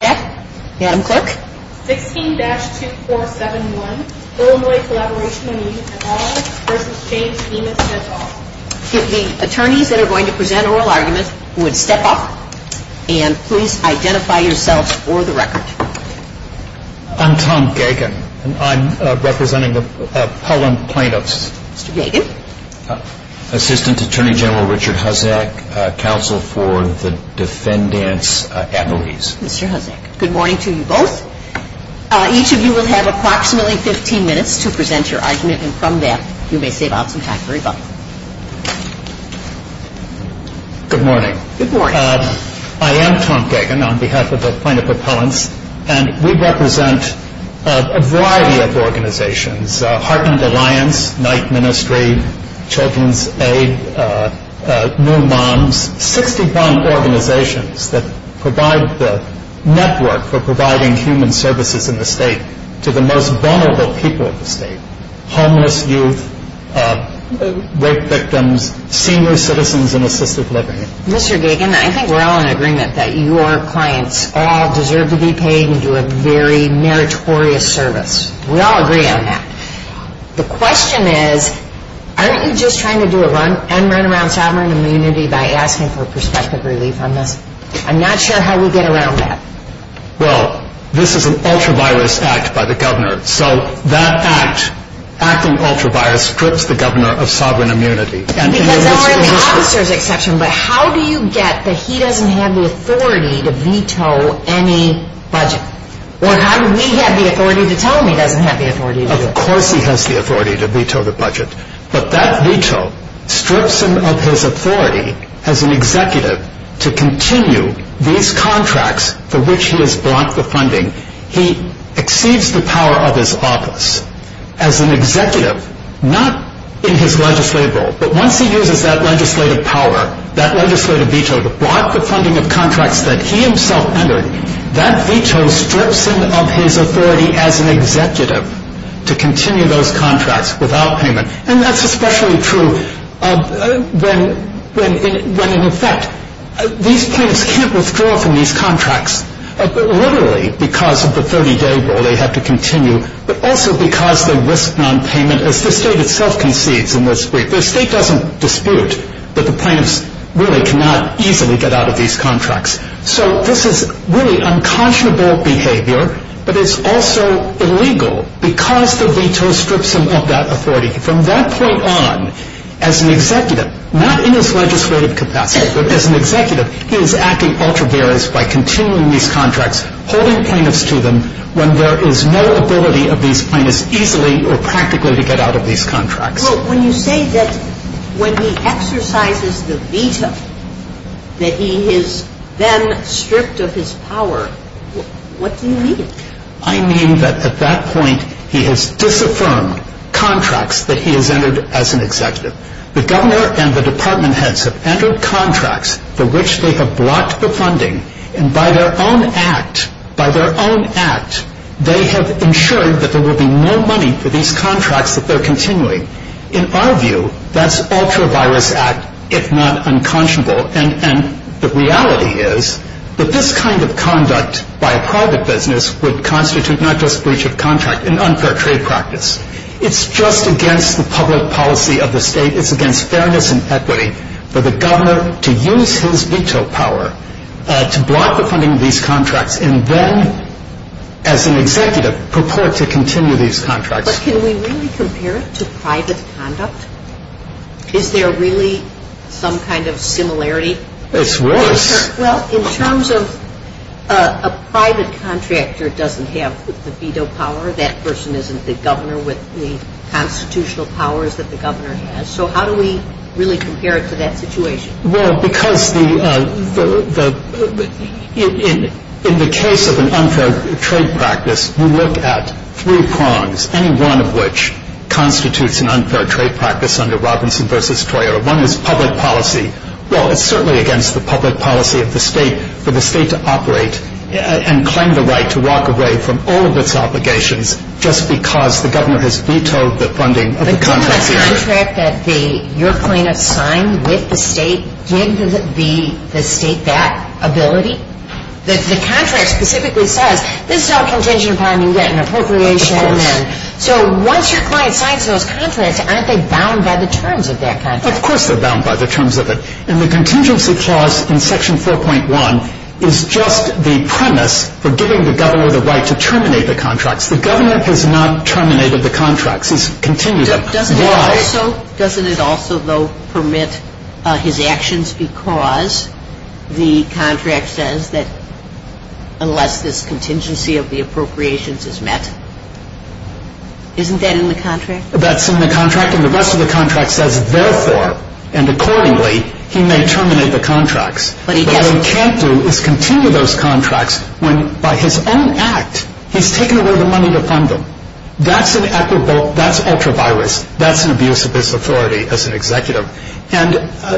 Huzzack. Adam Clerk. 16-2471, Illinois Collaboration on Youth at All v. James Dimas at All. The attorneys that are going to present oral arguments would step up and please identify yourselves for the record. I'm Tom Gagin. I'm representing the Pellon plaintiffs. Mr. Gagin. Assistant Attorney General Richard Huzzack, counsel for the defendants' attorneys. Mr. Huzzack. Good morning to you both. Each of you will have approximately 15 minutes to present your argument and from that you may save out some time for rebuttal. Good morning. Good morning. I am Tom Gagin on behalf of the plaintiff appellants and we represent a variety of organizations, Heartland Alliance, Knight Ministry, Children's Aid, New Moms, 61 organizations that provide the network for providing human services in the state to the most vulnerable people in the state, homeless youth, rape victims, senior citizens in assisted living. Mr. Gagin, I think we're all in agreement that your clients all deserve to be paid and do a very meritorious service. We all agree on that. The question is, aren't you just trying to do a run and run around sovereign immunity by asking for perspective relief on this? I'm not sure how we get around that. Well, this is an ultra-virus act by the governor, so that act, acting ultra-virus, strips the governor of sovereign immunity. Because there are officers exceptions, but how do you get that he doesn't have the authority to veto any budget? Or how do we have the authority to tell him he doesn't have the authority to do it? Of course he has the authority to veto the budget, but that veto strips him of his authority as an executive to continue these contracts for which he has brought the funding. He exceeds the power of his office as an executive, not in his legislative role, but once he uses that legislative power, that legislative veto to block the funding of contracts that he himself entered, that veto strips him of his authority as an executive to continue those contracts without payment. And that's especially true when, in effect, these plaintiffs can't withdraw from these contracts, literally because of the 30-day rule they have to continue, but also because they risk nonpayment, as the state itself concedes in this brief. The state doesn't dispute that the plaintiffs really cannot easily get out of these contracts. So this is really unconscionable behavior, but it's also illegal because the veto strips him of that authority. From that point on, as an executive, not in his legislative capacity, but as an executive, he is acting ultra-various by continuing these contracts, holding plaintiffs to them when there is no ability of these plaintiffs easily or practically to get out of these contracts. Well, when you say that when he exercises the veto, that he is then stripped of his power, what do you mean? I mean that, at that point, he has disaffirmed contracts that he has entered as an executive. The governor and the department heads have entered contracts for which they have blocked the funding, and by their own act, by their own act, they have ensured that there will be no money for these contracts that they're continuing. In our view, that's ultra-various act, if not unconscionable, and the reality is that this kind of conduct by a private business would constitute not just breach of contract, an unfair trade practice. It's just against the public policy of the state. It's against fairness and equity for the governor to use his veto power to block the funding of these contracts and then, as an executive, purport to continue these contracts. But can we really compare it to private conduct? Is there really some kind of similarity? It's worse. Well, in terms of a private contractor doesn't have the veto power, that person isn't the governor with the constitutional powers that the governor has. So how do we really compare it to that situation? Well, because in the case of an unfair trade practice, we look at three prongs, any one of which constitutes an unfair trade practice under Robinson v. Toyota. One is public policy. Well, it's certainly against the public policy of the state for the state to operate and claim the right to walk away from all of its obligations just because the governor has vetoed the funding of the contracts. The contract that your plaintiff signed with the state, did the state have that ability? The contract specifically says, this is how a contingency plan can get an appropriation. So once your client signs those contracts, aren't they bound by the terms of that contract? Of course they're bound by the terms of it. And the contingency clause in section 4.1 is just the premise for giving the governor the right to terminate the contracts. The Also, doesn't it also, though, permit his actions because the contract says that unless this contingency of the appropriations is met, isn't that in the contract? That's in the contract. And the rest of the contract says, therefore, and accordingly, he may terminate the contracts. But what he can't do is continue those contracts when by his own act, he's taken away the money to fund them. That's an act of, that's an abuse of his authority as an executive. And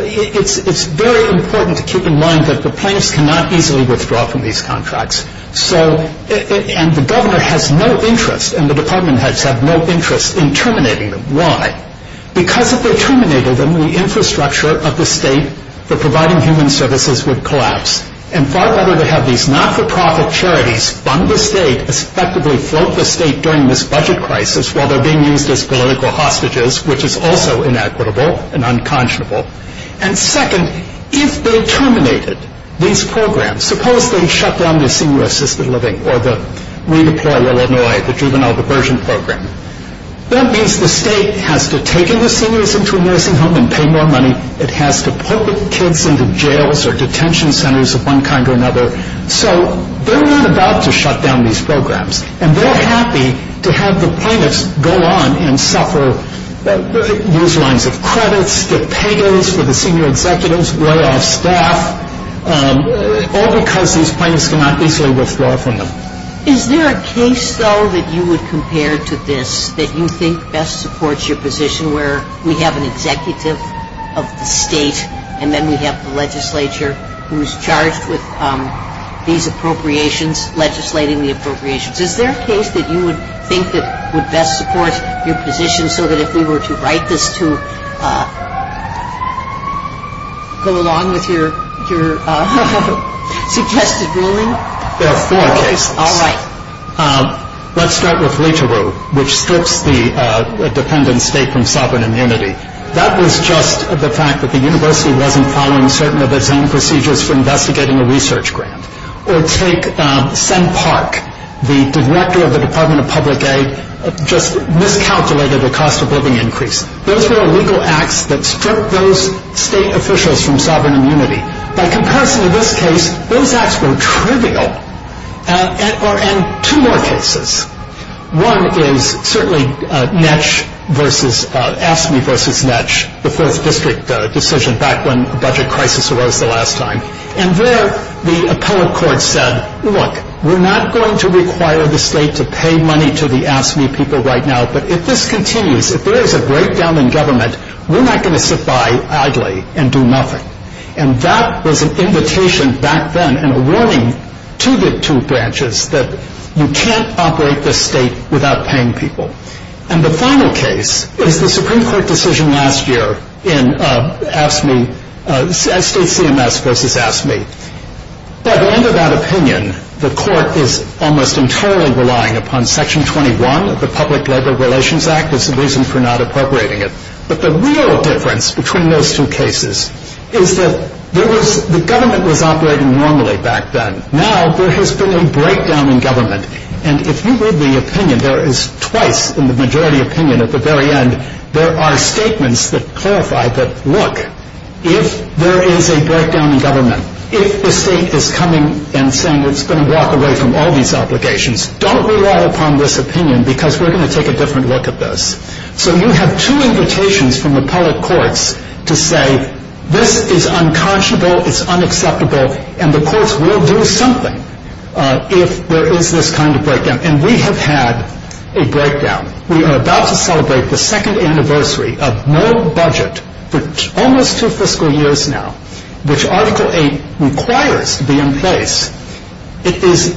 it's very important to keep in mind that the plaintiffs cannot easily withdraw from these contracts. So, and the governor has no interest, and the department heads have no interest in terminating them. Why? Because if they terminated them, the infrastructure of the state for providing human services would collapse. And far better to have these not-for-profit charities fund the state, effectively afloat the state during this budget crisis while they're being used as political hostages, which is also inequitable and unconscionable. And second, if they terminated these programs, suppose they shut down the senior assisted living or the redeploy Illinois, the juvenile diversion program. That means the state has to take in the seniors into a nursing home and pay more money. It has to put the kids into jails or detention centers of one kind or another. So they're not about to shut down these programs. And they're happy to have the plaintiffs go on and suffer these lines of credits, the pay goes for the senior executives, layoff staff, all because these plaintiffs cannot easily withdraw from them. Is there a case, though, that you would compare to this that you think best supports your position where we have an executive of the state and then we have the legislature who's appropriations, legislating the appropriations. Is there a case that you would think that would best support your position so that if we were to write this to go along with your suggested ruling? There are four cases. All right. Let's start with LitaRow, which strips the dependent state from sovereign immunity. That was just the fact that the university wasn't following certain of its own procedures for investigating a research grant. Or take Senn Park, the director of the Department of Public Aid, just miscalculated the cost of living increase. Those were legal acts that stripped those state officials from sovereign immunity. By comparison, in this case, those acts were trivial. And two more cases. One is certainly ASME versus NETCH, the fourth district decision back when the budget crisis arose the last time. And there the appellate court said, look, we're not going to require the state to pay money to the ASME people right now, but if this continues, if there is a breakdown in government, we're not going to sit by idly and do nothing. And that was an invitation back then and a warning to the two branches that you can't operate this state without paying people. And the final case is the Supreme Court decision last year in ASME, state CMS versus ASME. By the end of that opinion, the court is almost entirely relying upon Section 21 of the Public Labor Relations Act as a reason for not appropriating it. But the real difference between those two cases is that there was, the government was operating normally back then. Now there has been a breakdown in government. And if you read the opinion, there is twice in the majority opinion at the very end, there are statements that clarify that, look, if there is a breakdown in government, if the state is coming and saying it's going to walk away from all these obligations, don't rely upon this opinion because we're going to take a different look at this. So you have two invitations from appellate courts to say this is unconscionable, it's this kind of breakdown. And we have had a breakdown. We are about to celebrate the second anniversary of no budget for almost two fiscal years now, which Article 8 requires to be in place. It is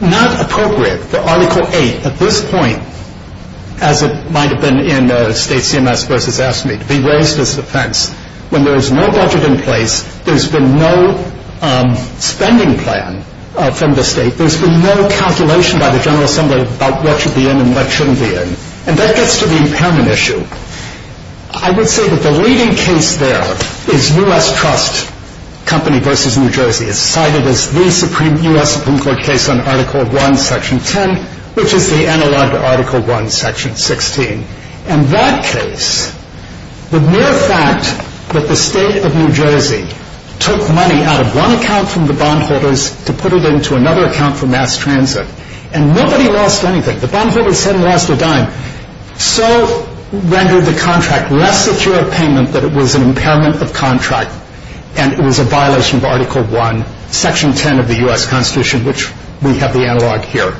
not appropriate for Article 8 at this point, as it might have been in state CMS versus ASME, to be raised as defense, when there is no budget in place, there's been no spending plan from the state, there's been no calculation by the General Assembly about what should be in and what shouldn't be in. And that gets to the impairment issue. I would say that the leading case there is U.S. Trust Company versus New Jersey. It's cited as the U.S. Supreme Court case on Article 1, Section 10, which is the analog of Article 1, Section 16. In that case, the mere fact that the state of New Jersey took money out of one account from the bondholders to put it into another account for mass transit, and nobody lost anything, the bondholders hadn't lost a dime, so rendered the contract less secure of payment that it was an impairment of contract and it was a violation of Article 1, Section 10 of the U.S. Constitution, which we have the analog here.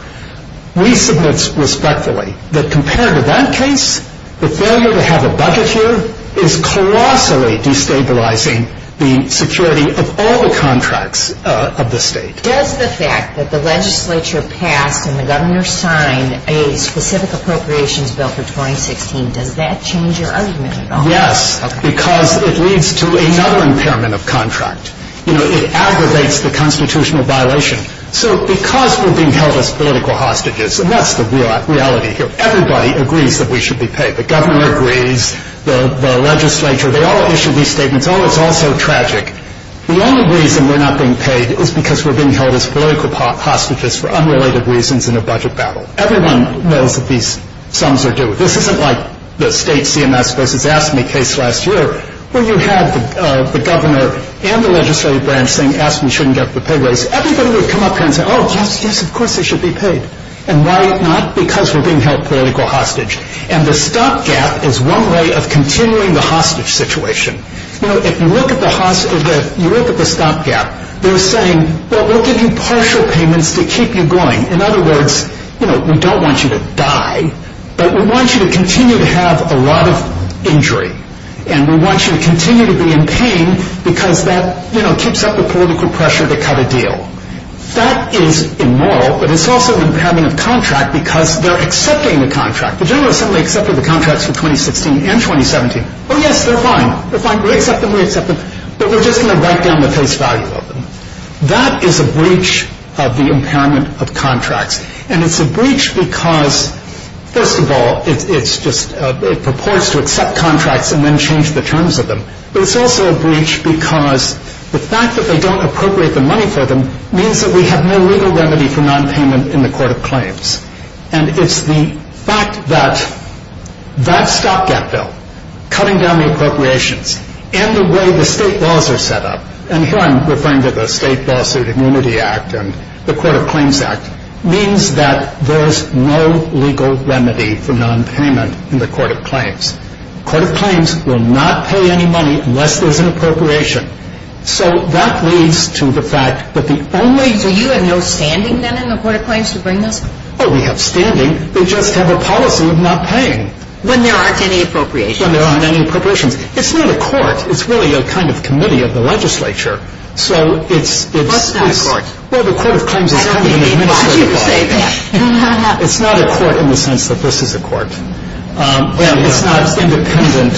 We submit respectfully that compared to that case, the failure to have a budget here is colossally destabilizing the security of all the contracts of the state. Does the fact that the legislature passed and the governor signed a specific appropriations bill for 2016, does that change your argument at all? Yes, because it leads to another impairment of contract. You know, it aggravates the political hostages, and that's the reality here. Everybody agrees that we should be paid. The governor agrees, the legislature, they all issue these statements. Oh, it's all so tragic. The only reason we're not being paid is because we're being held as political hostages for unrelated reasons in a budget battle. Everyone knows that these sums are due. This isn't like the state CMS versus AFSCME case last year where you had the governor and the legislative branch saying AFSCME shouldn't get the pay raise. Everybody would come up and say, oh, yes, yes, of course they should be paid. And why not? Because we're being held political hostage. And the stopgap is one way of continuing the hostage situation. You know, if you look at the stopgap, they're saying, well, we'll give you partial payments to keep you going. In other words, you know, we don't want you to die, but we want you to continue to have a lot of injury. And we want you to continue to be in pain because that, you know, keeps up the political pressure to cut a deal. That is immoral, but it's also the impairment of contract because they're accepting the contract. The general assembly accepted the contracts for 2016 and 2017. Oh, yes, they're fine. They're fine. We accept them. We accept them. But we're just going to write down the face value of them. That is a breach of the impairment of contracts. And it's a breach because, first of all, it's just it purports to accept contracts and then change the terms of them. But it's also a breach because the fact that they don't appropriate the money for them means that we have no legal remedy for nonpayment in the Court of Claims. And it's the fact that that stopgap bill, cutting down the appropriations, and the way the state laws are set up, and here I'm referring to the State Lawsuit Immunity Act and the Court of Claims Act, means that there's no legal remedy for nonpayment in the Court of Claims. The Court of Claims will not pay any money unless there's an appropriation. So that leads to the fact that the only So you have no standing, then, in the Court of Claims to bring this? Oh, we have standing. They just have a policy of not paying. When there aren't any appropriations? When there aren't any appropriations. It's not a court. It's really a kind of committee of the legislature. So it's What's not a court? Well, the Court of Claims is only an administrative body. I didn't mean for you to say that. It's not a court in the sense that this is a court. Well, it's not an independent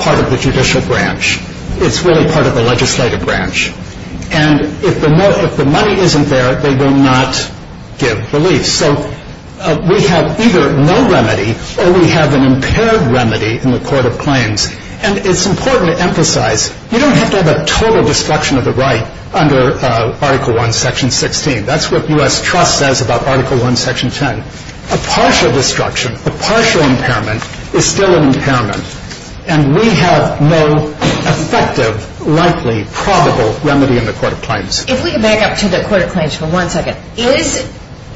part of the judicial branch. It's really part of the legislative branch. And if the money isn't there, they will not give relief. So we have either no remedy or we have an impaired remedy in the Court of Claims. And it's important to emphasize you don't have to have a total destruction of the right under Article I, Section 16. That's what U.S. Trust says about Article I, Section 10. A partial destruction, a partial impairment is still an impairment. And we have no effective, likely, probable remedy in the Court of Claims. If we could back up to the Court of Claims for one second.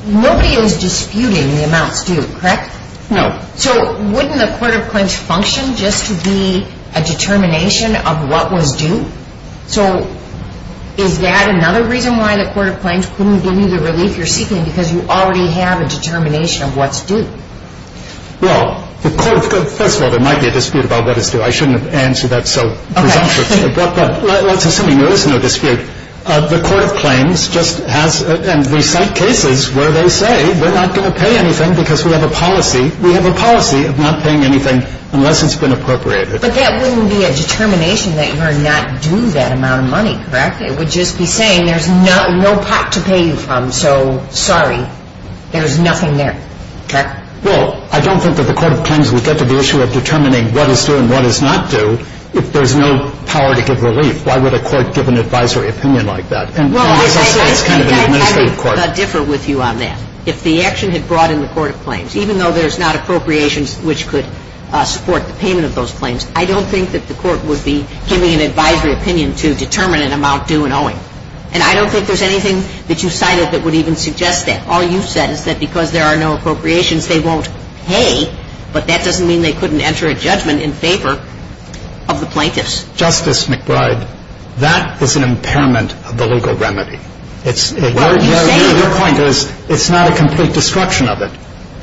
Nobody is disputing the amounts due, correct? No. So wouldn't the Court of Claims function just to be a determination of what was due? So is that another reason why the Court of Claims couldn't give you the relief you're seeking because you already have a determination of what's due? Well, first of all, there might be a dispute about what is due. I shouldn't have answered that so presumptuously. But let's assume there is no dispute. The Court of Claims just has and we cite cases where they say we're not going to pay anything because we have a policy of not paying anything unless it's been appropriated. But that wouldn't be a determination that you're not due that amount of money, correct? It would just be saying there's no pot to pay you from, so sorry, there's nothing there. Okay. Well, I don't think that the Court of Claims would get to the issue of determining what is due and what is not due if there's no power to give relief. Why would a court give an advisory opinion like that? Well, I would differ with you on that. If the action had brought in the Court of Claims, even though there's not appropriations which could support the payment of those claims, I don't think that the Court would be giving an advisory opinion to determine an amount due and owing. And I don't think there's anything that you cited that would even suggest that. All you said is that because there are no appropriations, they won't pay, but that doesn't mean they couldn't enter a judgment in favor of the plaintiffs. Justice McBride, that is an impairment of the legal remedy. What are you saying? Your point is it's not a complete destruction of it.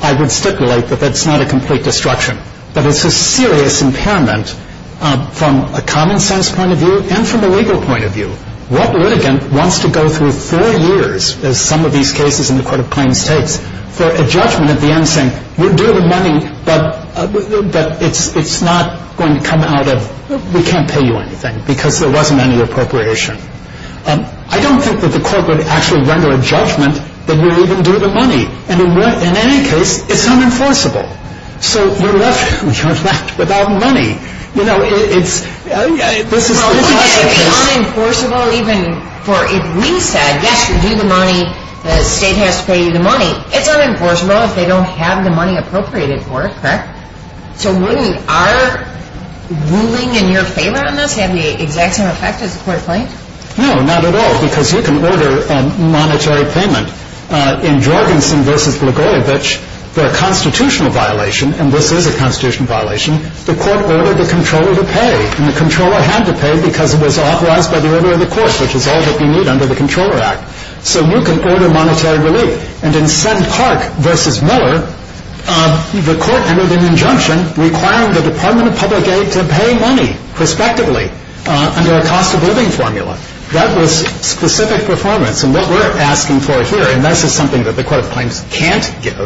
I would stipulate that that's not a complete destruction, but it's a serious impairment from a common-sense point of view and from a legal point of view. What litigant wants to go through four years, as some of these cases in the Court of Claims takes, for a judgment at the end saying, we'll do the money, but it's not going to come out of, we can't pay you anything because there wasn't any appropriation. I don't think that the Court would actually render a judgment that we'll even do the money. And in any case, it's unenforceable. So you're left without money. You know, it's, this is the classic case. It's unenforceable even for, if we said, yes, you'll do the money, the state has to pay you the money. It's unenforceable if they don't have the money appropriated for it, correct? So wouldn't our ruling in your favor on this have the exact same effect as the Court of Claims? No, not at all, because you can order a monetary payment. In Jorgensen v. Blagojevich, for a constitutional violation, and this is a constitutional violation, the court ordered the controller to pay. And the controller had to pay because it was authorized by the order of the court, which is all that we need under the Controller Act. So you can order monetary relief. And in Senn Park v. Miller, the court entered an injunction requiring the Department of Public Aid to pay money, prospectively, under a cost-of-living formula. That was specific performance. And what we're asking for here, and this is something that the Court of Claims can't give,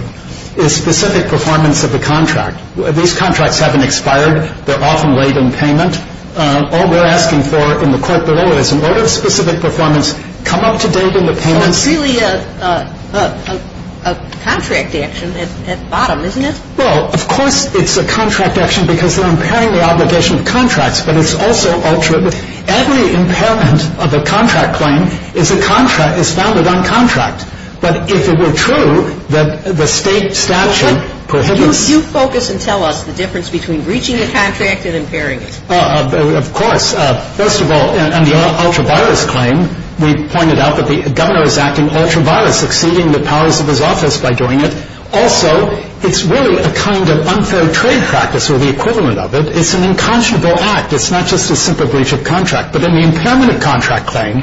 is specific performance of the contract. These contracts haven't expired. They're often late in payment. All we're asking for in the court below is an order of specific performance. Come up to date on the payments. But it's really a contract action at bottom, isn't it? Well, of course it's a contract action because they're impairing the obligation of contracts. But it's also all true. Every impairment of a contract claim is a contract that's founded on contract. But if it were true that the State statute prohibits you focus and tell us the difference between breaching the contract and impairing it. Of course. First of all, in the ultra-virus claim, we pointed out that the governor is acting ultra-virus, exceeding the powers of his office by doing it. Also, it's really a kind of unfair trade practice, or the equivalent of it. It's an inconscionable act. It's not just a simple breach of contract. But in the impairment of contract claim,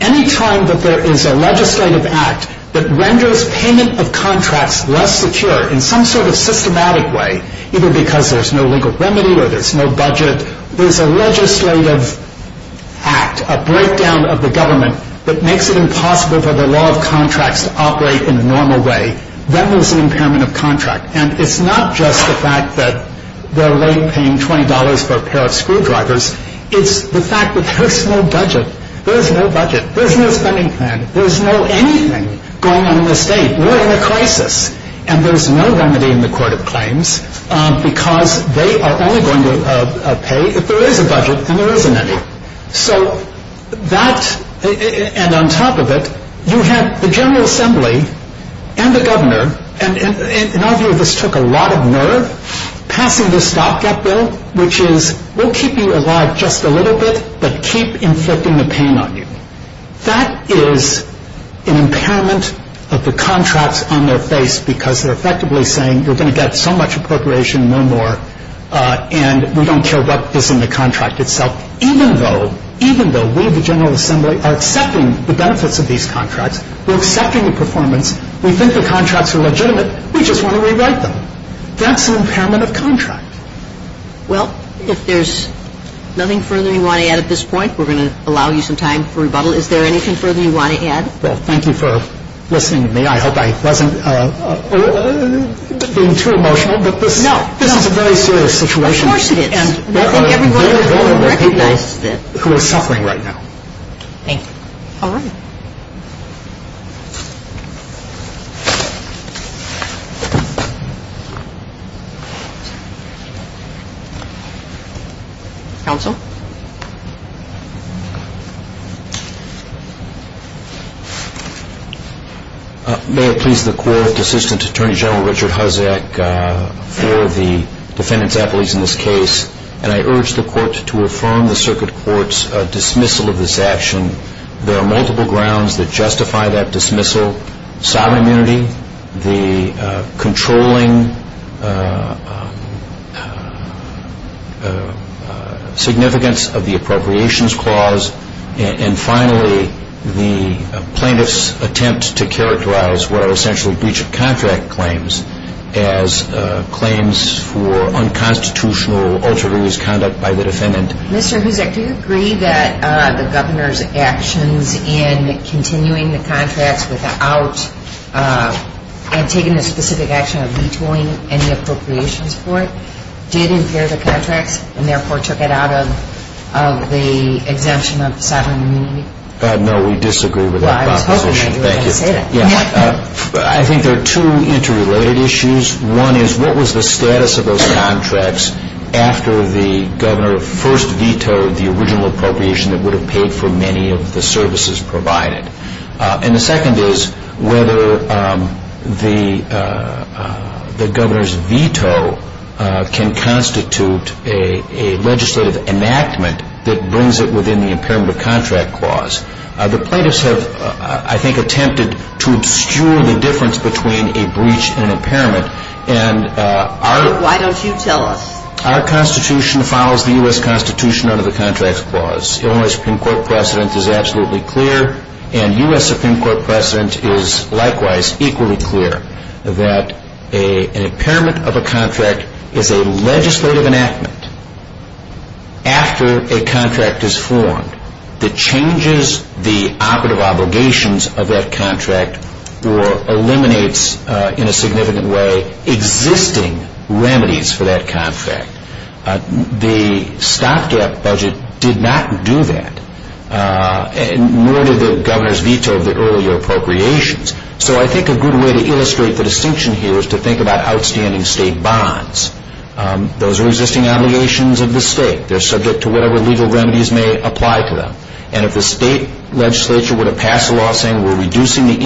any time that there is a legislative act that renders payment of contracts less secure in some sort of systematic way, either because there's no legal remedy or there's no budget, there's a legislative act, a breakdown of the government that makes it impossible for the law of contracts to operate in a normal way, then there's an impairment of contract. And it's not just the fact that they're late paying $20 for a pair of screwdrivers. It's the fact that there's no budget. There's no budget. There's no anything going on in the state. We're in a crisis. And there's no remedy in the court of claims because they are only going to pay if there is a budget and there isn't any. So that, and on top of it, you have the General Assembly and the governor, and in our view this took a lot of nerve, passing the stopgap bill, which is we'll keep you alive just a little bit, but keep inflicting the pain on you. That is an impairment of the contracts on their face because they're effectively saying you're going to get so much appropriation, no more, and we don't care about this in the contract itself. Even though we, the General Assembly, are accepting the benefits of these contracts, we're accepting the performance, we think the contracts are legitimate, we just want to rewrite them. That's an impairment of contract. Well, if there's nothing further you want to add at this point, we're going to allow you some time for rebuttal. Is there anything further you want to add? Well, thank you for listening to me. I hope I wasn't being too emotional. No. But this is a very serious situation. Of course it is. And there are very vulnerable people who are suffering right now. Thank you. All right. Thank you. Counsel? May it please the Court, Assistant Attorney General Richard Huzdak for the defendants' apologies in this case, and I urge the Court to affirm the Circuit Court's dismissal of this action. There are multiple grounds that justify that dismissal. Sovereign immunity, the controlling significance of the appropriations clause, and finally, the plaintiff's attempt to characterize what are essentially breach of contract claims as claims for unconstitutional altruist conduct by the defendant. Mr. Huzdak, do you agree that the Governor's actions in continuing the contracts without taking the specific action of vetoing any appropriations for it did impair the contracts and therefore took it out of the exemption of sovereign immunity? No, we disagree with that proposition. Well, I was hoping you were going to say that. I think there are two interrelated issues. One is what was the status of those contracts after the Governor first vetoed the original appropriation that would have paid for many of the services provided? And the second is whether the Governor's veto can constitute a legislative enactment that brings it within the impairment of contract clause. The plaintiffs have, I think, attempted to obscure the difference between a Why don't you tell us? Our Constitution follows the U.S. Constitution under the contracts clause. Illinois Supreme Court precedent is absolutely clear, and U.S. Supreme Court precedent is likewise equally clear that an impairment of a contract is a legislative enactment after a contract is formed that changes the operative existing remedies for that contract. The stopgap budget did not do that, nor did the Governor's veto of the earlier appropriations. So I think a good way to illustrate the distinction here is to think about outstanding state bonds. Those are existing obligations of the state. They're subject to whatever legal remedies may apply to them. And if the state legislature were to pass a law saying we're reducing the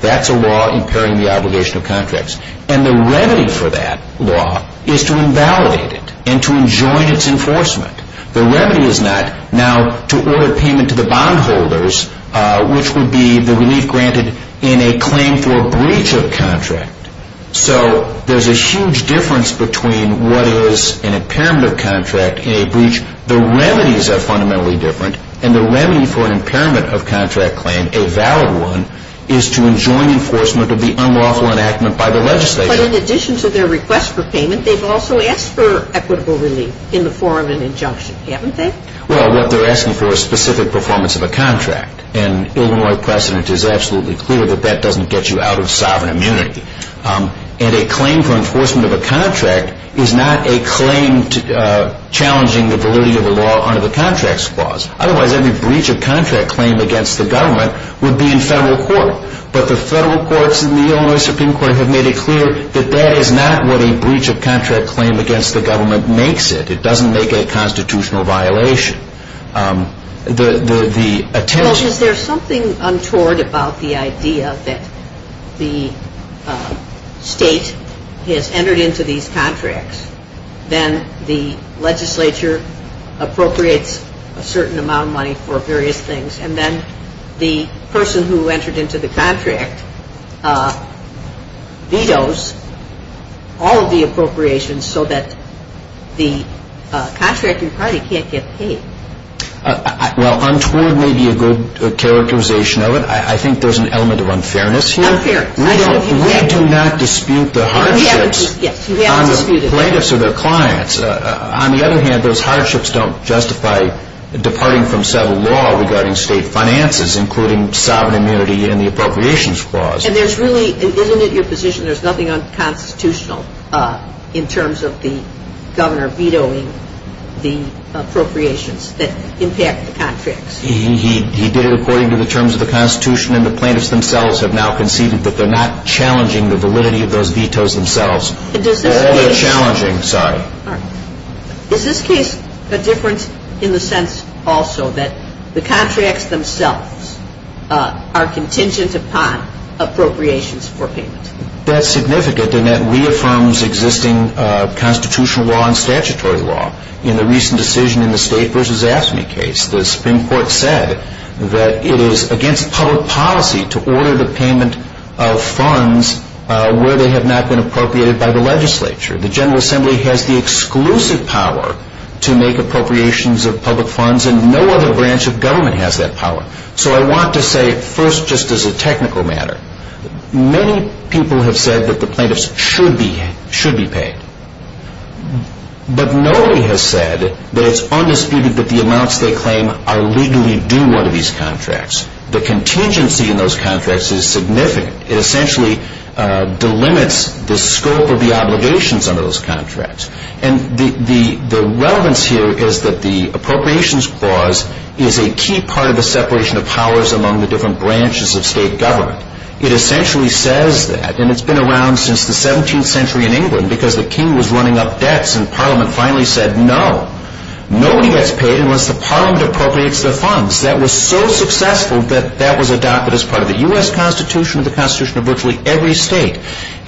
That's a law impairing the obligation of contracts. And the remedy for that law is to invalidate it and to enjoin its enforcement. The remedy is not now to order payment to the bondholders, which would be the relief granted in a claim for a breach of contract. So there's a huge difference between what is an impairment of contract and a breach. The remedies are fundamentally different, and the remedy for an impairment of unlawful enactment by the legislature. But in addition to their request for payment, they've also asked for equitable relief in the form of an injunction, haven't they? Well, what they're asking for is specific performance of a contract. And Illinois precedent is absolutely clear that that doesn't get you out of sovereign immunity. And a claim for enforcement of a contract is not a claim challenging the validity of a law under the Contracts Clause. Otherwise, every breach of contract claim against the government would be in federal court. But the federal courts in the Illinois Supreme Court have made it clear that that is not what a breach of contract claim against the government makes it. It doesn't make it a constitutional violation. Well, is there something untoward about the idea that the state has entered into these contracts, then the legislature appropriates a certain amount of money for various things, and then the person who entered into the contract vetoes all of the appropriations so that the contracting party can't get paid? Well, untoward may be a good characterization of it. I think there's an element of unfairness here. Unfairness. We do not dispute the hardships. Yes, you haven't disputed it. On the plaintiffs or their clients. On the other hand, those hardships don't justify departing from federal law regarding state finances, including sovereign immunity and the Appropriations Clause. And isn't it your position there's nothing unconstitutional in terms of the governor vetoing the appropriations that impact the contracts? He did it according to the terms of the Constitution, and the plaintiffs themselves have now conceded that they're not challenging the validity of those vetoes themselves. Or they're challenging, sorry. Is this case a difference in the sense also that the contracts themselves are contingent upon appropriations for payment? That's significant, and that reaffirms existing constitutional law and statutory law. In the recent decision in the State v. AFSCME case, the Supreme Court said that it is against public policy to order the payment of funds where they have not been appropriated by the legislature. The General Assembly has the exclusive power to make appropriations of public funds, and no other branch of government has that power. So I want to say first, just as a technical matter, many people have said that the plaintiffs should be paid. But nobody has said that it's undisputed that the amounts they claim are legally due under these contracts. The contingency in those contracts is significant. It essentially delimits the scope of the obligations under those contracts. And the relevance here is that the appropriations clause is a key part of the separation of powers among the different branches of state government. It essentially says that, and it's been around since the 17th century in England, because the king was running up debts and parliament finally said no. Nobody gets paid unless the parliament appropriates their funds. That was so successful that that was adopted as part of the U.S. Constitution and the Constitution of virtually every state.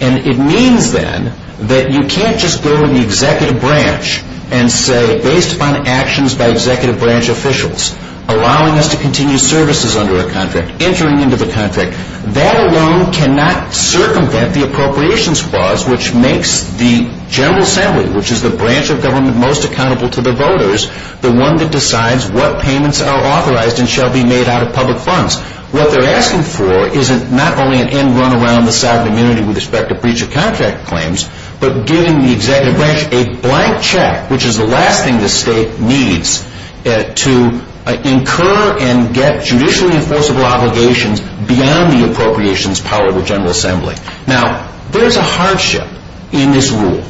And it means, then, that you can't just go to the executive branch and say, based upon actions by executive branch officials, allowing us to continue services under a contract, entering into the contract. That alone cannot circumvent the appropriations clause, which makes the General Assembly, which is the branch of government most accountable to the voters, the one that decides what payments are authorized and shall be made out of public funds. What they're asking for is not only an end run around the sovereign immunity with respect to breach of contract claims, but giving the executive branch a blank check, which is the last thing the state needs to incur and get judicially enforceable obligations beyond the appropriations power of the General Assembly. Now, there's a hardship in this rule.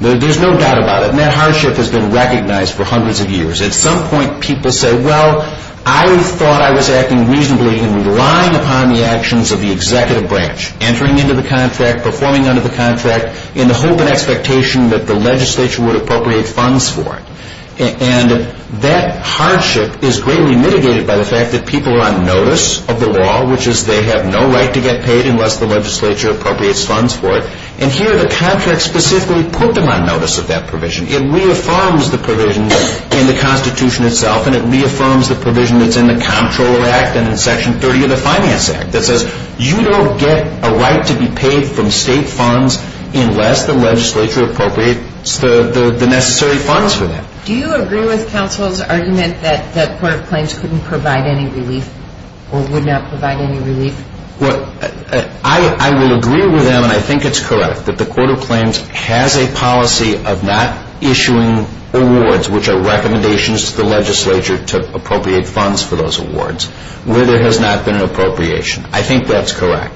There's no doubt about it. And that hardship has been recognized for hundreds of years. At some point, people say, well, I thought I was acting reasonably in relying upon the actions of the executive branch, entering into the contract, performing under the contract, in the hope and expectation that the legislature would appropriate funds for it. And that hardship is greatly mitigated by the fact that people are on notice of the law, which is they have no right to get paid unless the legislature appropriates funds for it. And here, the contract specifically put them on notice of that provision. It reaffirms the provision in the Constitution itself, and it reaffirms the provision that's in the Comptroller Act and in Section 30 of the Finance Act that says you don't get a right to be paid from state funds unless the legislature appropriates the necessary funds for that. Do you agree with counsel's argument that court claims couldn't provide any relief or would not provide any relief? Well, I will agree with him, and I think it's correct, that the Court of Claims has a policy of not issuing awards, which are recommendations to the legislature to appropriate funds for those awards, where there has not been an appropriation. I think that's correct.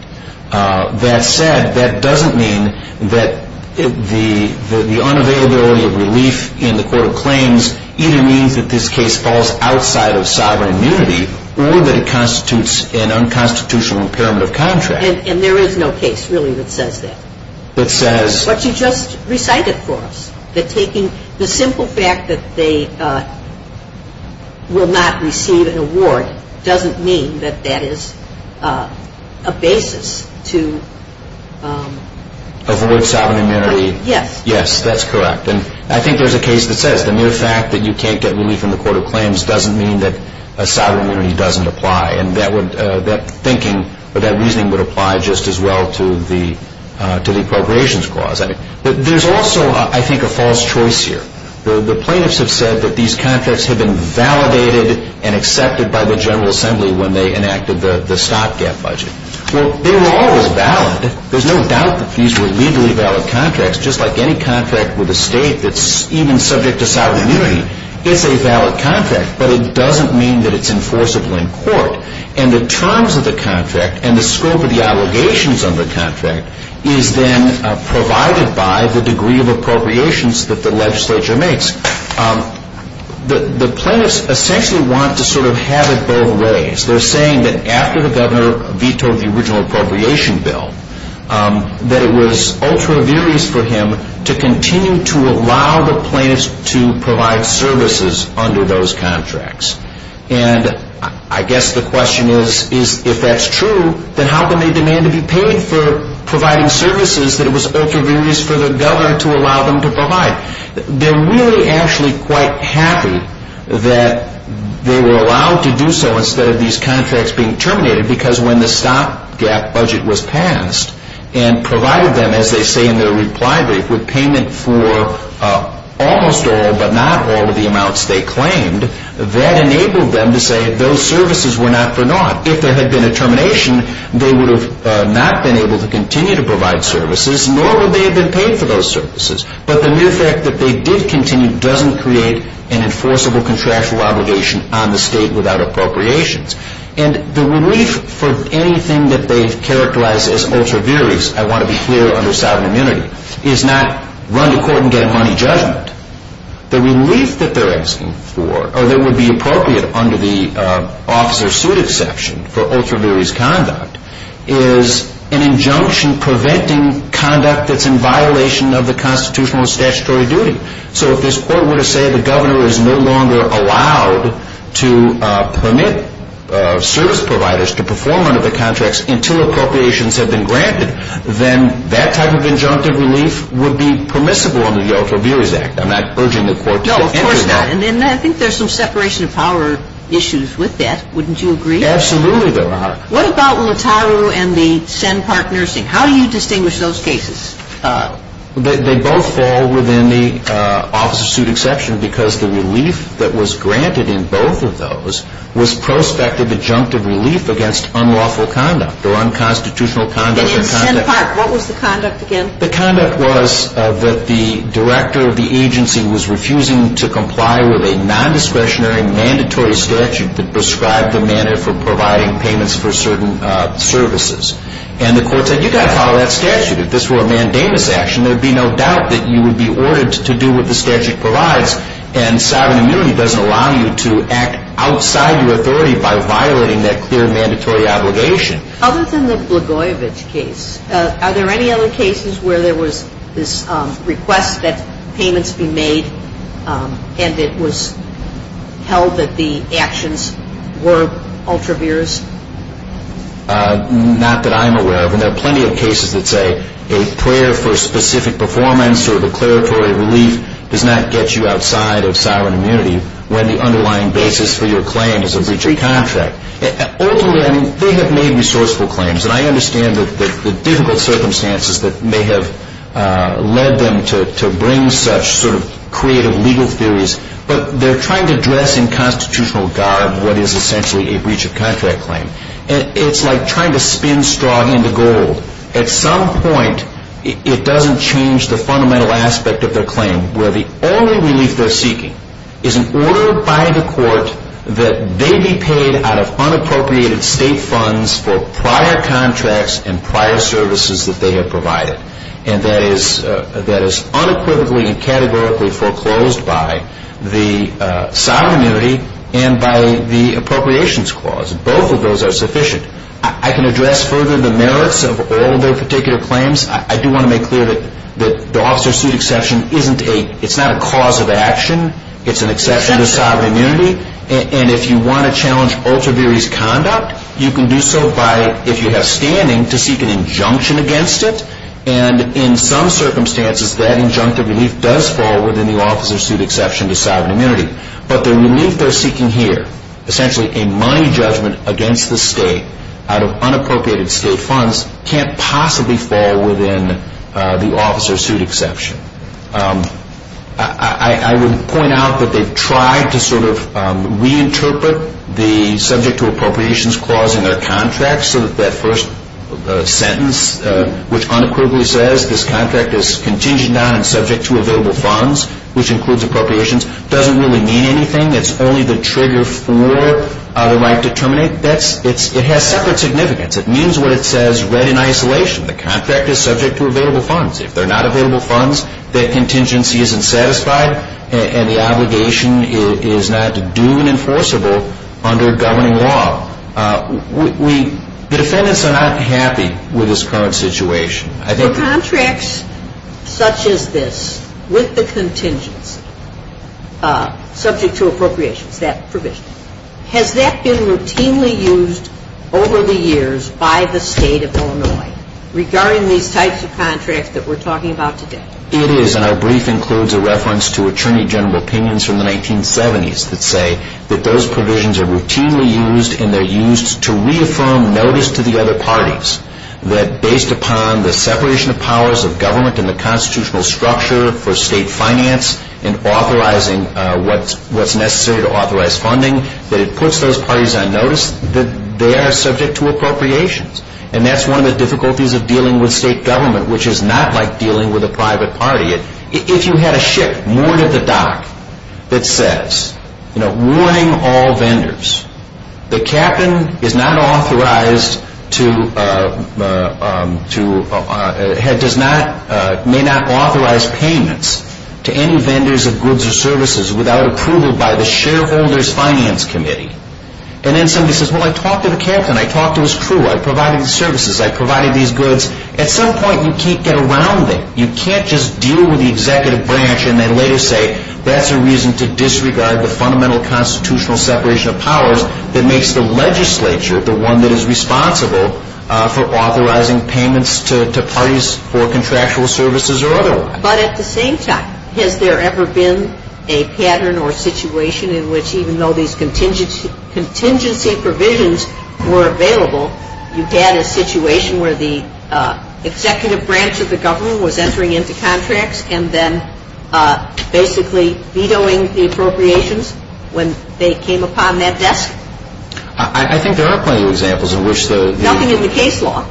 That said, that doesn't mean that the unavailability of relief in the Court of Claims either means that this case falls outside of sovereign immunity or that it constitutes an unconstitutional impairment of contract. And there is no case, really, that says that. That says... But you just recited for us that taking the simple fact that they will not receive an award doesn't mean that that is a basis to... Avoid sovereign immunity. Yes. Yes, that's correct. And I think there's a case that says the mere fact that you can't get relief in the Court of Claims doesn't mean that a sovereign immunity doesn't apply. And that thinking or that reasoning would apply just as well to the appropriations clause. But there's also, I think, a false choice here. The plaintiffs have said that these contracts have been validated and accepted by the General Assembly when they enacted the stock gap budget. Well, they were always valid. There's no doubt that these were legally valid contracts, just like any contract with a state that's even subject to sovereign immunity. It's a valid contract, but it doesn't mean that it's enforceable in court. And the terms of the contract and the scope of the allegations on the contract is then provided by the degree of appropriations that the legislature makes. The plaintiffs essentially want to sort of have it both ways. They're saying that after the governor vetoed the original appropriation bill, that it was ultra-various for him to continue to allow the plaintiffs to provide services under those contracts. And I guess the question is, if that's true, then how come they demand to be paid for providing services that it was ultra-various for the governor to allow them to provide? They're really actually quite happy that they were allowed to do so instead of these contracts being terminated because when the stopgap budget was passed and provided them, as they say in their reply brief, with payment for almost all but not all of the amounts they claimed, that enabled them to say those services were not for naught. If there had been a termination, they would have not been able to continue to provide services, nor would they have been paid for those services. But the mere fact that they did continue doesn't create an enforceable contractual obligation on the state without appropriations. And the relief for anything that they've characterized as ultra-various, I want to be clear, under sovereign immunity, is not run to court and get a money judgment. The relief that they're asking for, or that would be appropriate under the officer's suit exception for ultra-various conduct, is an injunction preventing conduct that's in violation of the constitutional and statutory duty. So if this court were to say the governor is no longer allowed to permit service providers to perform under the contracts until appropriations have been granted, then that type of injunctive relief would be permissible under the Ultra-Various Act. I'm not urging the court to enter that. No, of course not. And I think there's some separation of power issues with that. Wouldn't you agree? Absolutely there are. What about Lataru and the Senn Park Nursing? How do you distinguish those cases? They both fall within the officer's suit exception because the relief that was granted in both of those was prospective injunctive relief against unlawful conduct or unconstitutional conduct. And in Senn Park, what was the conduct again? The conduct was that the director of the agency was refusing to comply with a non-discretionary mandatory statute that prescribed the manner for providing payments for certain services. And the court said, you've got to follow that statute. If this were a mandamus action, there would be no doubt that you would be ordered to do what the statute provides. And sovereign immunity doesn't allow you to act outside your authority by violating that clear mandatory obligation. Other than the Blagojevich case, are there any other cases where there was this request that payments be made and it was held that the actions were ultra-various? Not that I'm aware of. And there are plenty of cases that say a prayer for specific performance or declaratory relief does not get you outside of sovereign immunity when the underlying basis for your claim is a breach of contract. Ultimately, I mean, they have made resourceful claims. And I understand the difficult circumstances that may have led them to bring such sort of creative legal theories. But they're trying to dress in constitutional garb what is essentially a breach of contract claim. And it's like trying to spin straw into gold. At some point, it doesn't change the fundamental aspect of their claim where the only relief they're seeking is an order by the court that they be paid out of unappropriated state funds for prior contracts and prior services that they have provided. And that is unequivocally and categorically foreclosed by the sovereign immunity and by the appropriations clause. Both of those are sufficient. I can address further the merits of all their particular claims. I do want to make clear that the officer's suit exception isn't a cause of action. It's an exception to sovereign immunity. And if you want to challenge ultra-various conduct, you can do so by, if you have standing, to seek an injunction against it. And in some circumstances, that injunctive relief does fall within the officer's suit exception to sovereign immunity. But the relief they're seeking here, essentially a money judgment against the state out of unappropriated state funds, can't possibly fall within the officer's suit exception. I would point out that they've tried to sort of reinterpret the subject to appropriations clause in their contract so that that first sentence, which unequivocally says, this contract is contingent on and subject to available funds, which includes appropriations, doesn't really mean anything. It's only the trigger for the right to terminate. It has separate significance. It means what it says read in isolation. The contract is subject to available funds. If they're not available funds, that contingency isn't satisfied, and the obligation is not to do an enforceable under governing law. The defendants are not happy with this current situation. For contracts such as this with the contingency subject to appropriations, that provision, has that been routinely used over the years by the State of Illinois regarding these types of contracts that we're talking about today? It is, and our brief includes a reference to attorney general opinions from the 1970s that say that those provisions are routinely used, and they're used to reaffirm notice to the other parties that based upon the separation of powers of government and the constitutional structure for state finance and authorizing what's necessary to authorize funding, that it puts those parties on notice that they are subject to appropriations. And that's one of the difficulties of dealing with state government, which is not like dealing with a private party. If you had a ship moored at the dock that says, you know, mooring all vendors, the captain may not authorize payments to any vendors of goods or services without approval by the shareholder's finance committee. And then somebody says, well, I talked to the captain, I talked to his crew, I provided the services, I provided these goods. At some point you can't get around that. You can't just deal with the executive branch and then later say, that's a reason to disregard the fundamental constitutional separation of powers that makes the legislature the one that is responsible for authorizing payments to parties for contractual services or otherwise. But at the same time, has there ever been a pattern or situation in which even though these contingency provisions were available, you had a situation where the executive branch of the government was entering into contracts and then basically vetoing the appropriations when they came upon that desk? I think there are plenty of examples in which the... Nothing in the case law.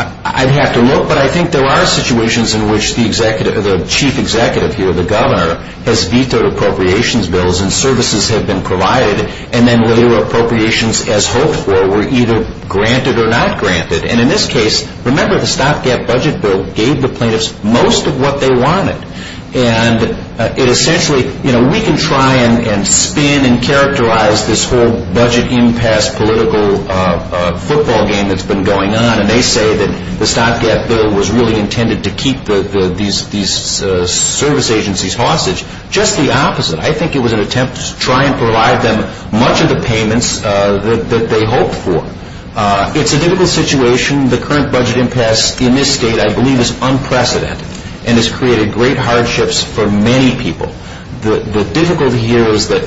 I'd have to look, but I think there are situations in which the chief executive here, the governor, has vetoed appropriations bills and services have been provided and then later appropriations as hoped for were either granted or not granted. And in this case, remember the stopgap budget bill gave the plaintiffs most of what they wanted. And it essentially, you know, we can try and spin and characterize this whole budget impasse political football game that's been going on and they say that the stopgap bill was really intended to keep these service agencies hostage. Just the opposite. I think it was an attempt to try and provide them much of the payments that they hoped for. It's a difficult situation. The current budget impasse in this state, I believe, is unprecedented and has created great hardships for many people. The difficulty here is that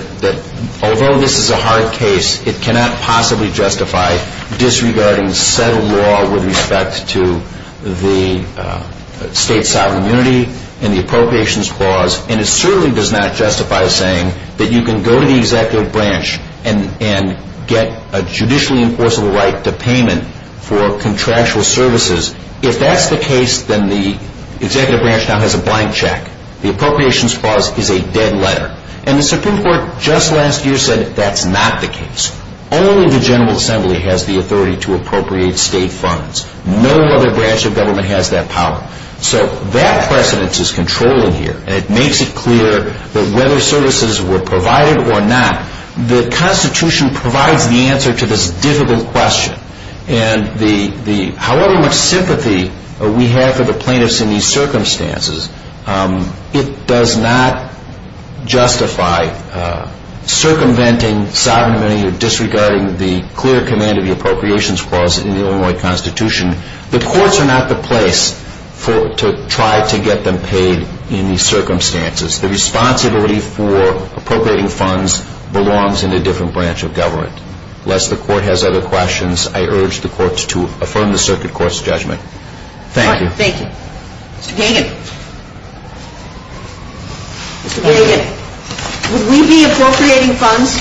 although this is a hard case, it cannot possibly justify disregarding set of law with respect to the state sovereignty and the appropriations clause. And it certainly does not justify saying that you can go to the executive branch and get a judicially enforceable right to payment for contractual services. If that's the case, then the executive branch now has a blank check. The appropriations clause is a dead letter. And the Supreme Court just last year said that's not the case. Only the General Assembly has the authority to appropriate state funds. No other branch of government has that power. So that precedence is controlling here. And it makes it clear that whether services were provided or not, the Constitution provides the answer to this difficult question. And however much sympathy we have for the plaintiffs in these circumstances, it does not justify circumventing, sovereignly, or disregarding the clear command of the appropriations clause in the Illinois Constitution. The courts are not the place to try to get them paid in these circumstances. The responsibility for appropriating funds belongs in a different branch of government. Lest the Court has other questions, I urge the courts to affirm the circuit court's judgment. Thank you. Thank you. Mr. Gagin. Mr. Gagin. Would we be appropriating funds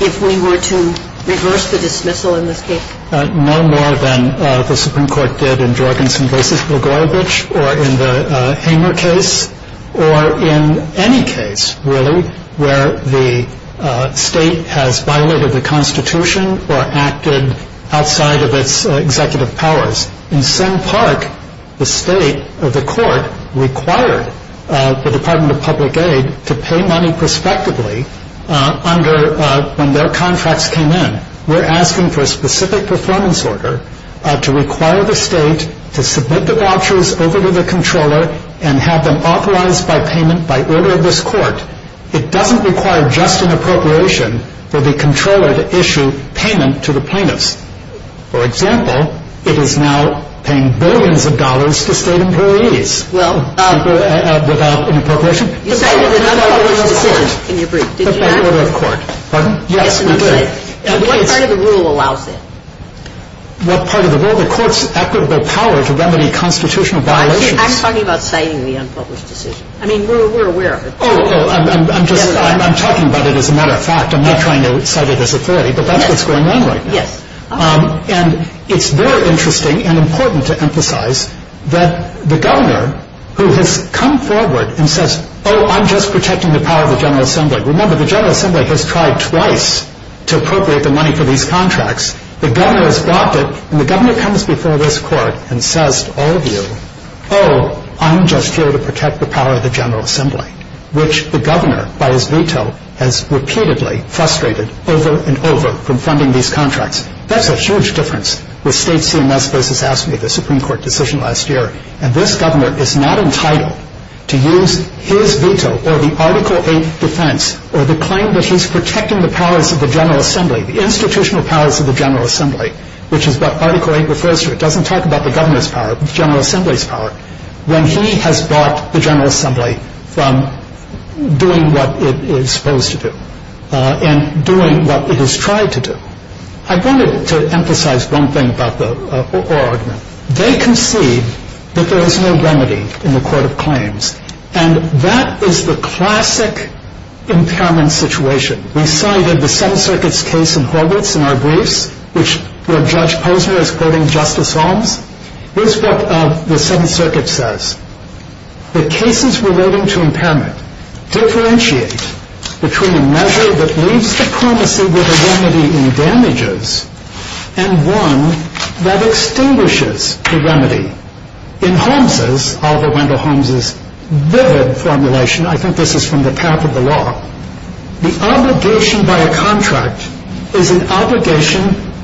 if we were to reverse the dismissal in this case? No more than the Supreme Court did in Jorgensen v. Blagojevich, or in the Hamer case, or in any case, really, where the state has violated the Constitution or acted outside of its executive powers. In Senn Park, the state, or the court, required the Department of Public Aid to pay money prospectively when their contracts came in. We're asking for a specific performance order to require the state to submit the vouchers over to the controller and have them authorized by payment by order of this Court. It doesn't require just an appropriation for the controller to issue payment to the plaintiffs. For example, it is now paying billions of dollars to state employees without an appropriation. You cited an unpublished decision in your brief. Did you not? Pardon? Yes, we did. What part of the rule allows that? What part of the rule? The court's equitable power to remedy constitutional violations. I'm talking about citing the unpublished decision. I mean, we're aware of it. Oh, I'm just talking about it as a matter of fact. I'm not trying to cite it as authority, but that's what's going on right now. Yes. And it's very interesting and important to emphasize that the governor, who has come forward and says, oh, I'm just protecting the power of the General Assembly. Remember, the General Assembly has tried twice to appropriate the money for these contracts. The governor has blocked it, and the governor comes before this Court and says to all of you, oh, I'm just here to protect the power of the General Assembly, which the governor, by his veto, has repeatedly frustrated over and over from funding these contracts. That's a huge difference. The Supreme Court decision last year, and this governor is not entitled to use his veto or the Article 8 defense or the claim that he's protecting the powers of the General Assembly, the institutional powers of the General Assembly, which is what Article 8 refers to. It doesn't talk about the governor's power, the General Assembly's power, when he has blocked the General Assembly from doing what it is supposed to do and doing what it has tried to do. I wanted to emphasize one thing about the Orr argument. They concede that there is no remedy in the Court of Claims, and that is the classic impairment situation. We cited the Seventh Circuit's case in Horvitz in our briefs, where Judge Posner is quoting Justice Holmes. Here's what the Seventh Circuit says. The cases relating to impairment differentiate between a measure that leaves diplomacy with a remedy in damages and one that extinguishes the remedy. In Holmes's, Oliver Wendell Holmes's vivid formulation, I think this is from the path of the law, the obligation by a contract is an obligation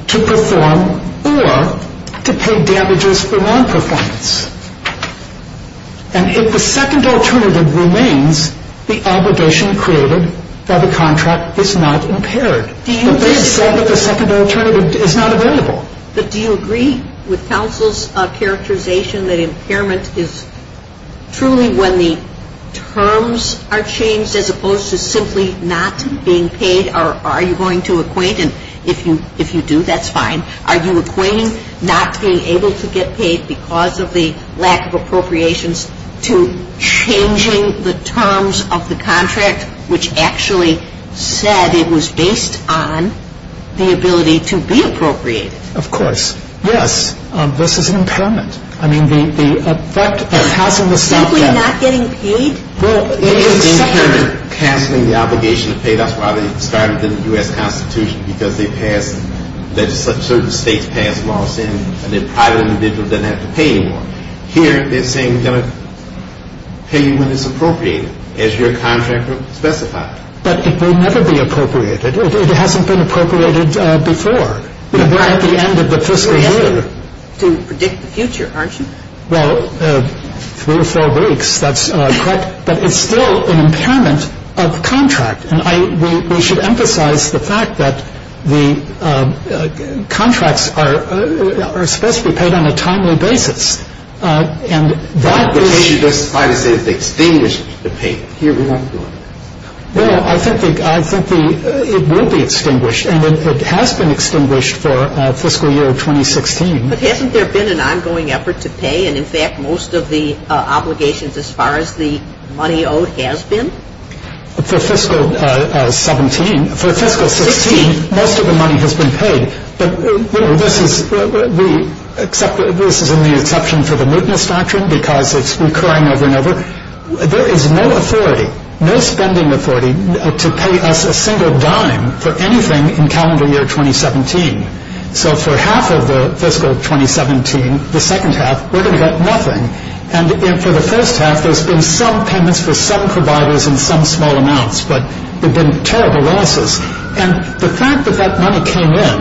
to perform or to pay damages for non-performance. And if the second alternative remains, the obligation created by the contract is not impaired. But they have said that the second alternative is not available. But do you agree with counsel's characterization that impairment is truly when the terms are changed as opposed to simply not being paid, or are you going to acquaint, and if you do, that's fine. Are you acquainting not being able to get paid because of the lack of appropriations to changing the terms of the contract, which actually said it was based on the ability to be appropriated? Of course. Yes. This is an impairment. I mean, the effect of passing the Seventh Circuit. Simply not getting paid? Well, it is an impairment. Here, canceling the obligation to pay, that's why they started in the U.S. Constitution, because they passed, certain states passed laws saying a private individual doesn't have to pay anymore. Here, they're saying we're going to pay you when it's appropriated, as your contract specifies. But it will never be appropriated. It hasn't been appropriated before. We're at the end of the fiscal year. You have to predict the future, aren't you? Well, three or four weeks. That's correct. But it's still an impairment of contract. And we should emphasize the fact that the contracts are supposed to be paid on a timely basis. And that is — But she does try to say that they extinguish the payment. Here, we won't do it. Well, I think it will be extinguished, and it has been extinguished for fiscal year 2016. But hasn't there been an ongoing effort to pay? And, in fact, most of the obligations as far as the money owed has been? For fiscal 17 — for fiscal 16, most of the money has been paid. But, you know, this is — we — this is in the exception for the mootness doctrine, because it's recurring over and over. There is no authority, no spending authority, to pay us a single dime for anything in calendar year 2017. So for half of the fiscal 2017, the second half, we're going to get nothing. And for the first half, there's been some payments for some providers in some small amounts, but there have been terrible losses. And the fact that that money came in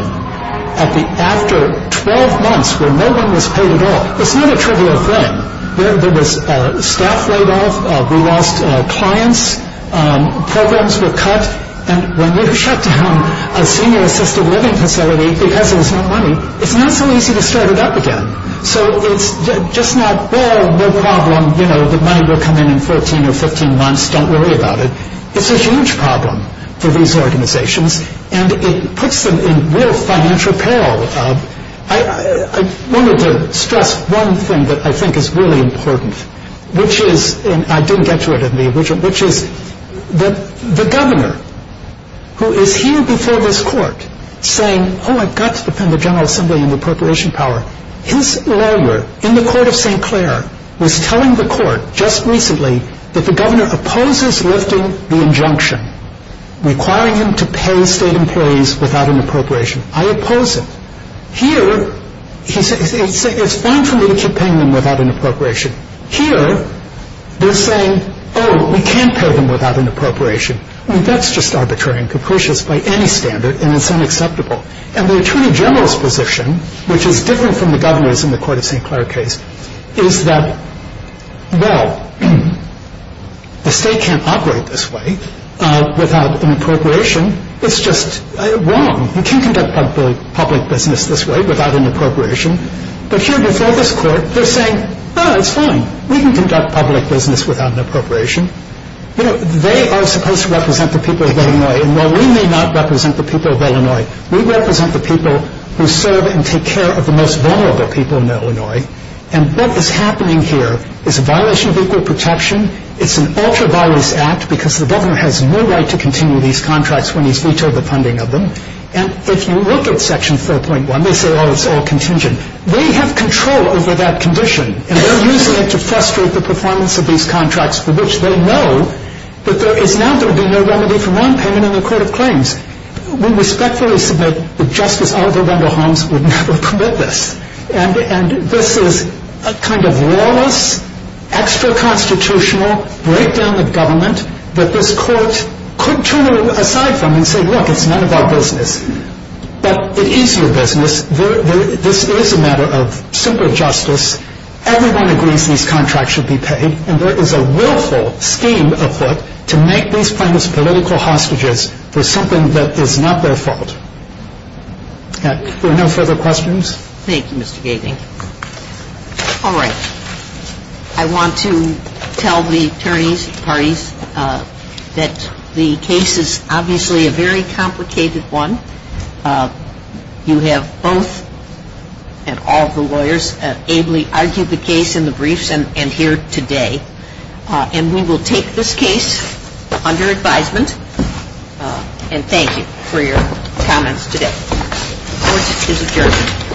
after 12 months where no one was paid at all, it's not a trivial thing. There was staff laid off. We lost clients. Programs were cut. And when you shut down a senior assisted living facility because there was no money, it's not so easy to start it up again. So it's just not, well, no problem. You know, the money will come in in 14 or 15 months. Don't worry about it. It's a huge problem for these organizations, and it puts them in real financial peril. I wanted to stress one thing that I think is really important, which is — who is here before this court saying, oh, I've got to defend the General Assembly and the appropriation power. His lawyer in the court of St. Clair was telling the court just recently that the governor opposes lifting the injunction requiring him to pay state employees without an appropriation. I oppose it. Here, he's saying it's fine for me to keep paying them without an appropriation. Here, they're saying, oh, we can't pay them without an appropriation. I mean, that's just arbitrary and capricious by any standard, and it's unacceptable. And the attorney general's position, which is different from the governor's in the court of St. Clair case, is that, well, the state can't operate this way without an appropriation. It's just wrong. We can conduct public business this way without an appropriation. But here before this court, they're saying, oh, it's fine. We can conduct public business without an appropriation. You know, they are supposed to represent the people of Illinois, and while we may not represent the people of Illinois, we represent the people who serve and take care of the most vulnerable people in Illinois. And what is happening here is a violation of equal protection. It's an ultra-violence act because the governor has no right to continue these contracts when he's vetoed the funding of them. And if you look at Section 4.1, they say, oh, it's all contingent. They have control over that condition, and they're using it to frustrate the performance of these contracts, for which they know that there is now going to be no remedy for wrong payment in the court of claims. We respectfully submit that Justice Oliver Wendell Holmes would never commit this. And this is a kind of lawless, extra-constitutional breakdown of government that this court could turn aside from and say, look, it's none of our business. But it is your business. This is a matter of simple justice. Everyone agrees these contracts should be paid, and there is a willful scheme afoot to make these plaintiffs political hostages for something that is not their fault. Are there no further questions? Thank you, Mr. Gating. All right. I want to tell the attorneys and parties that the case is obviously a very complicated one. You have both and all of the lawyers ably argued the case in the briefs and here today. And we will take this case under advisement. And thank you for your comments today. Court is adjourned.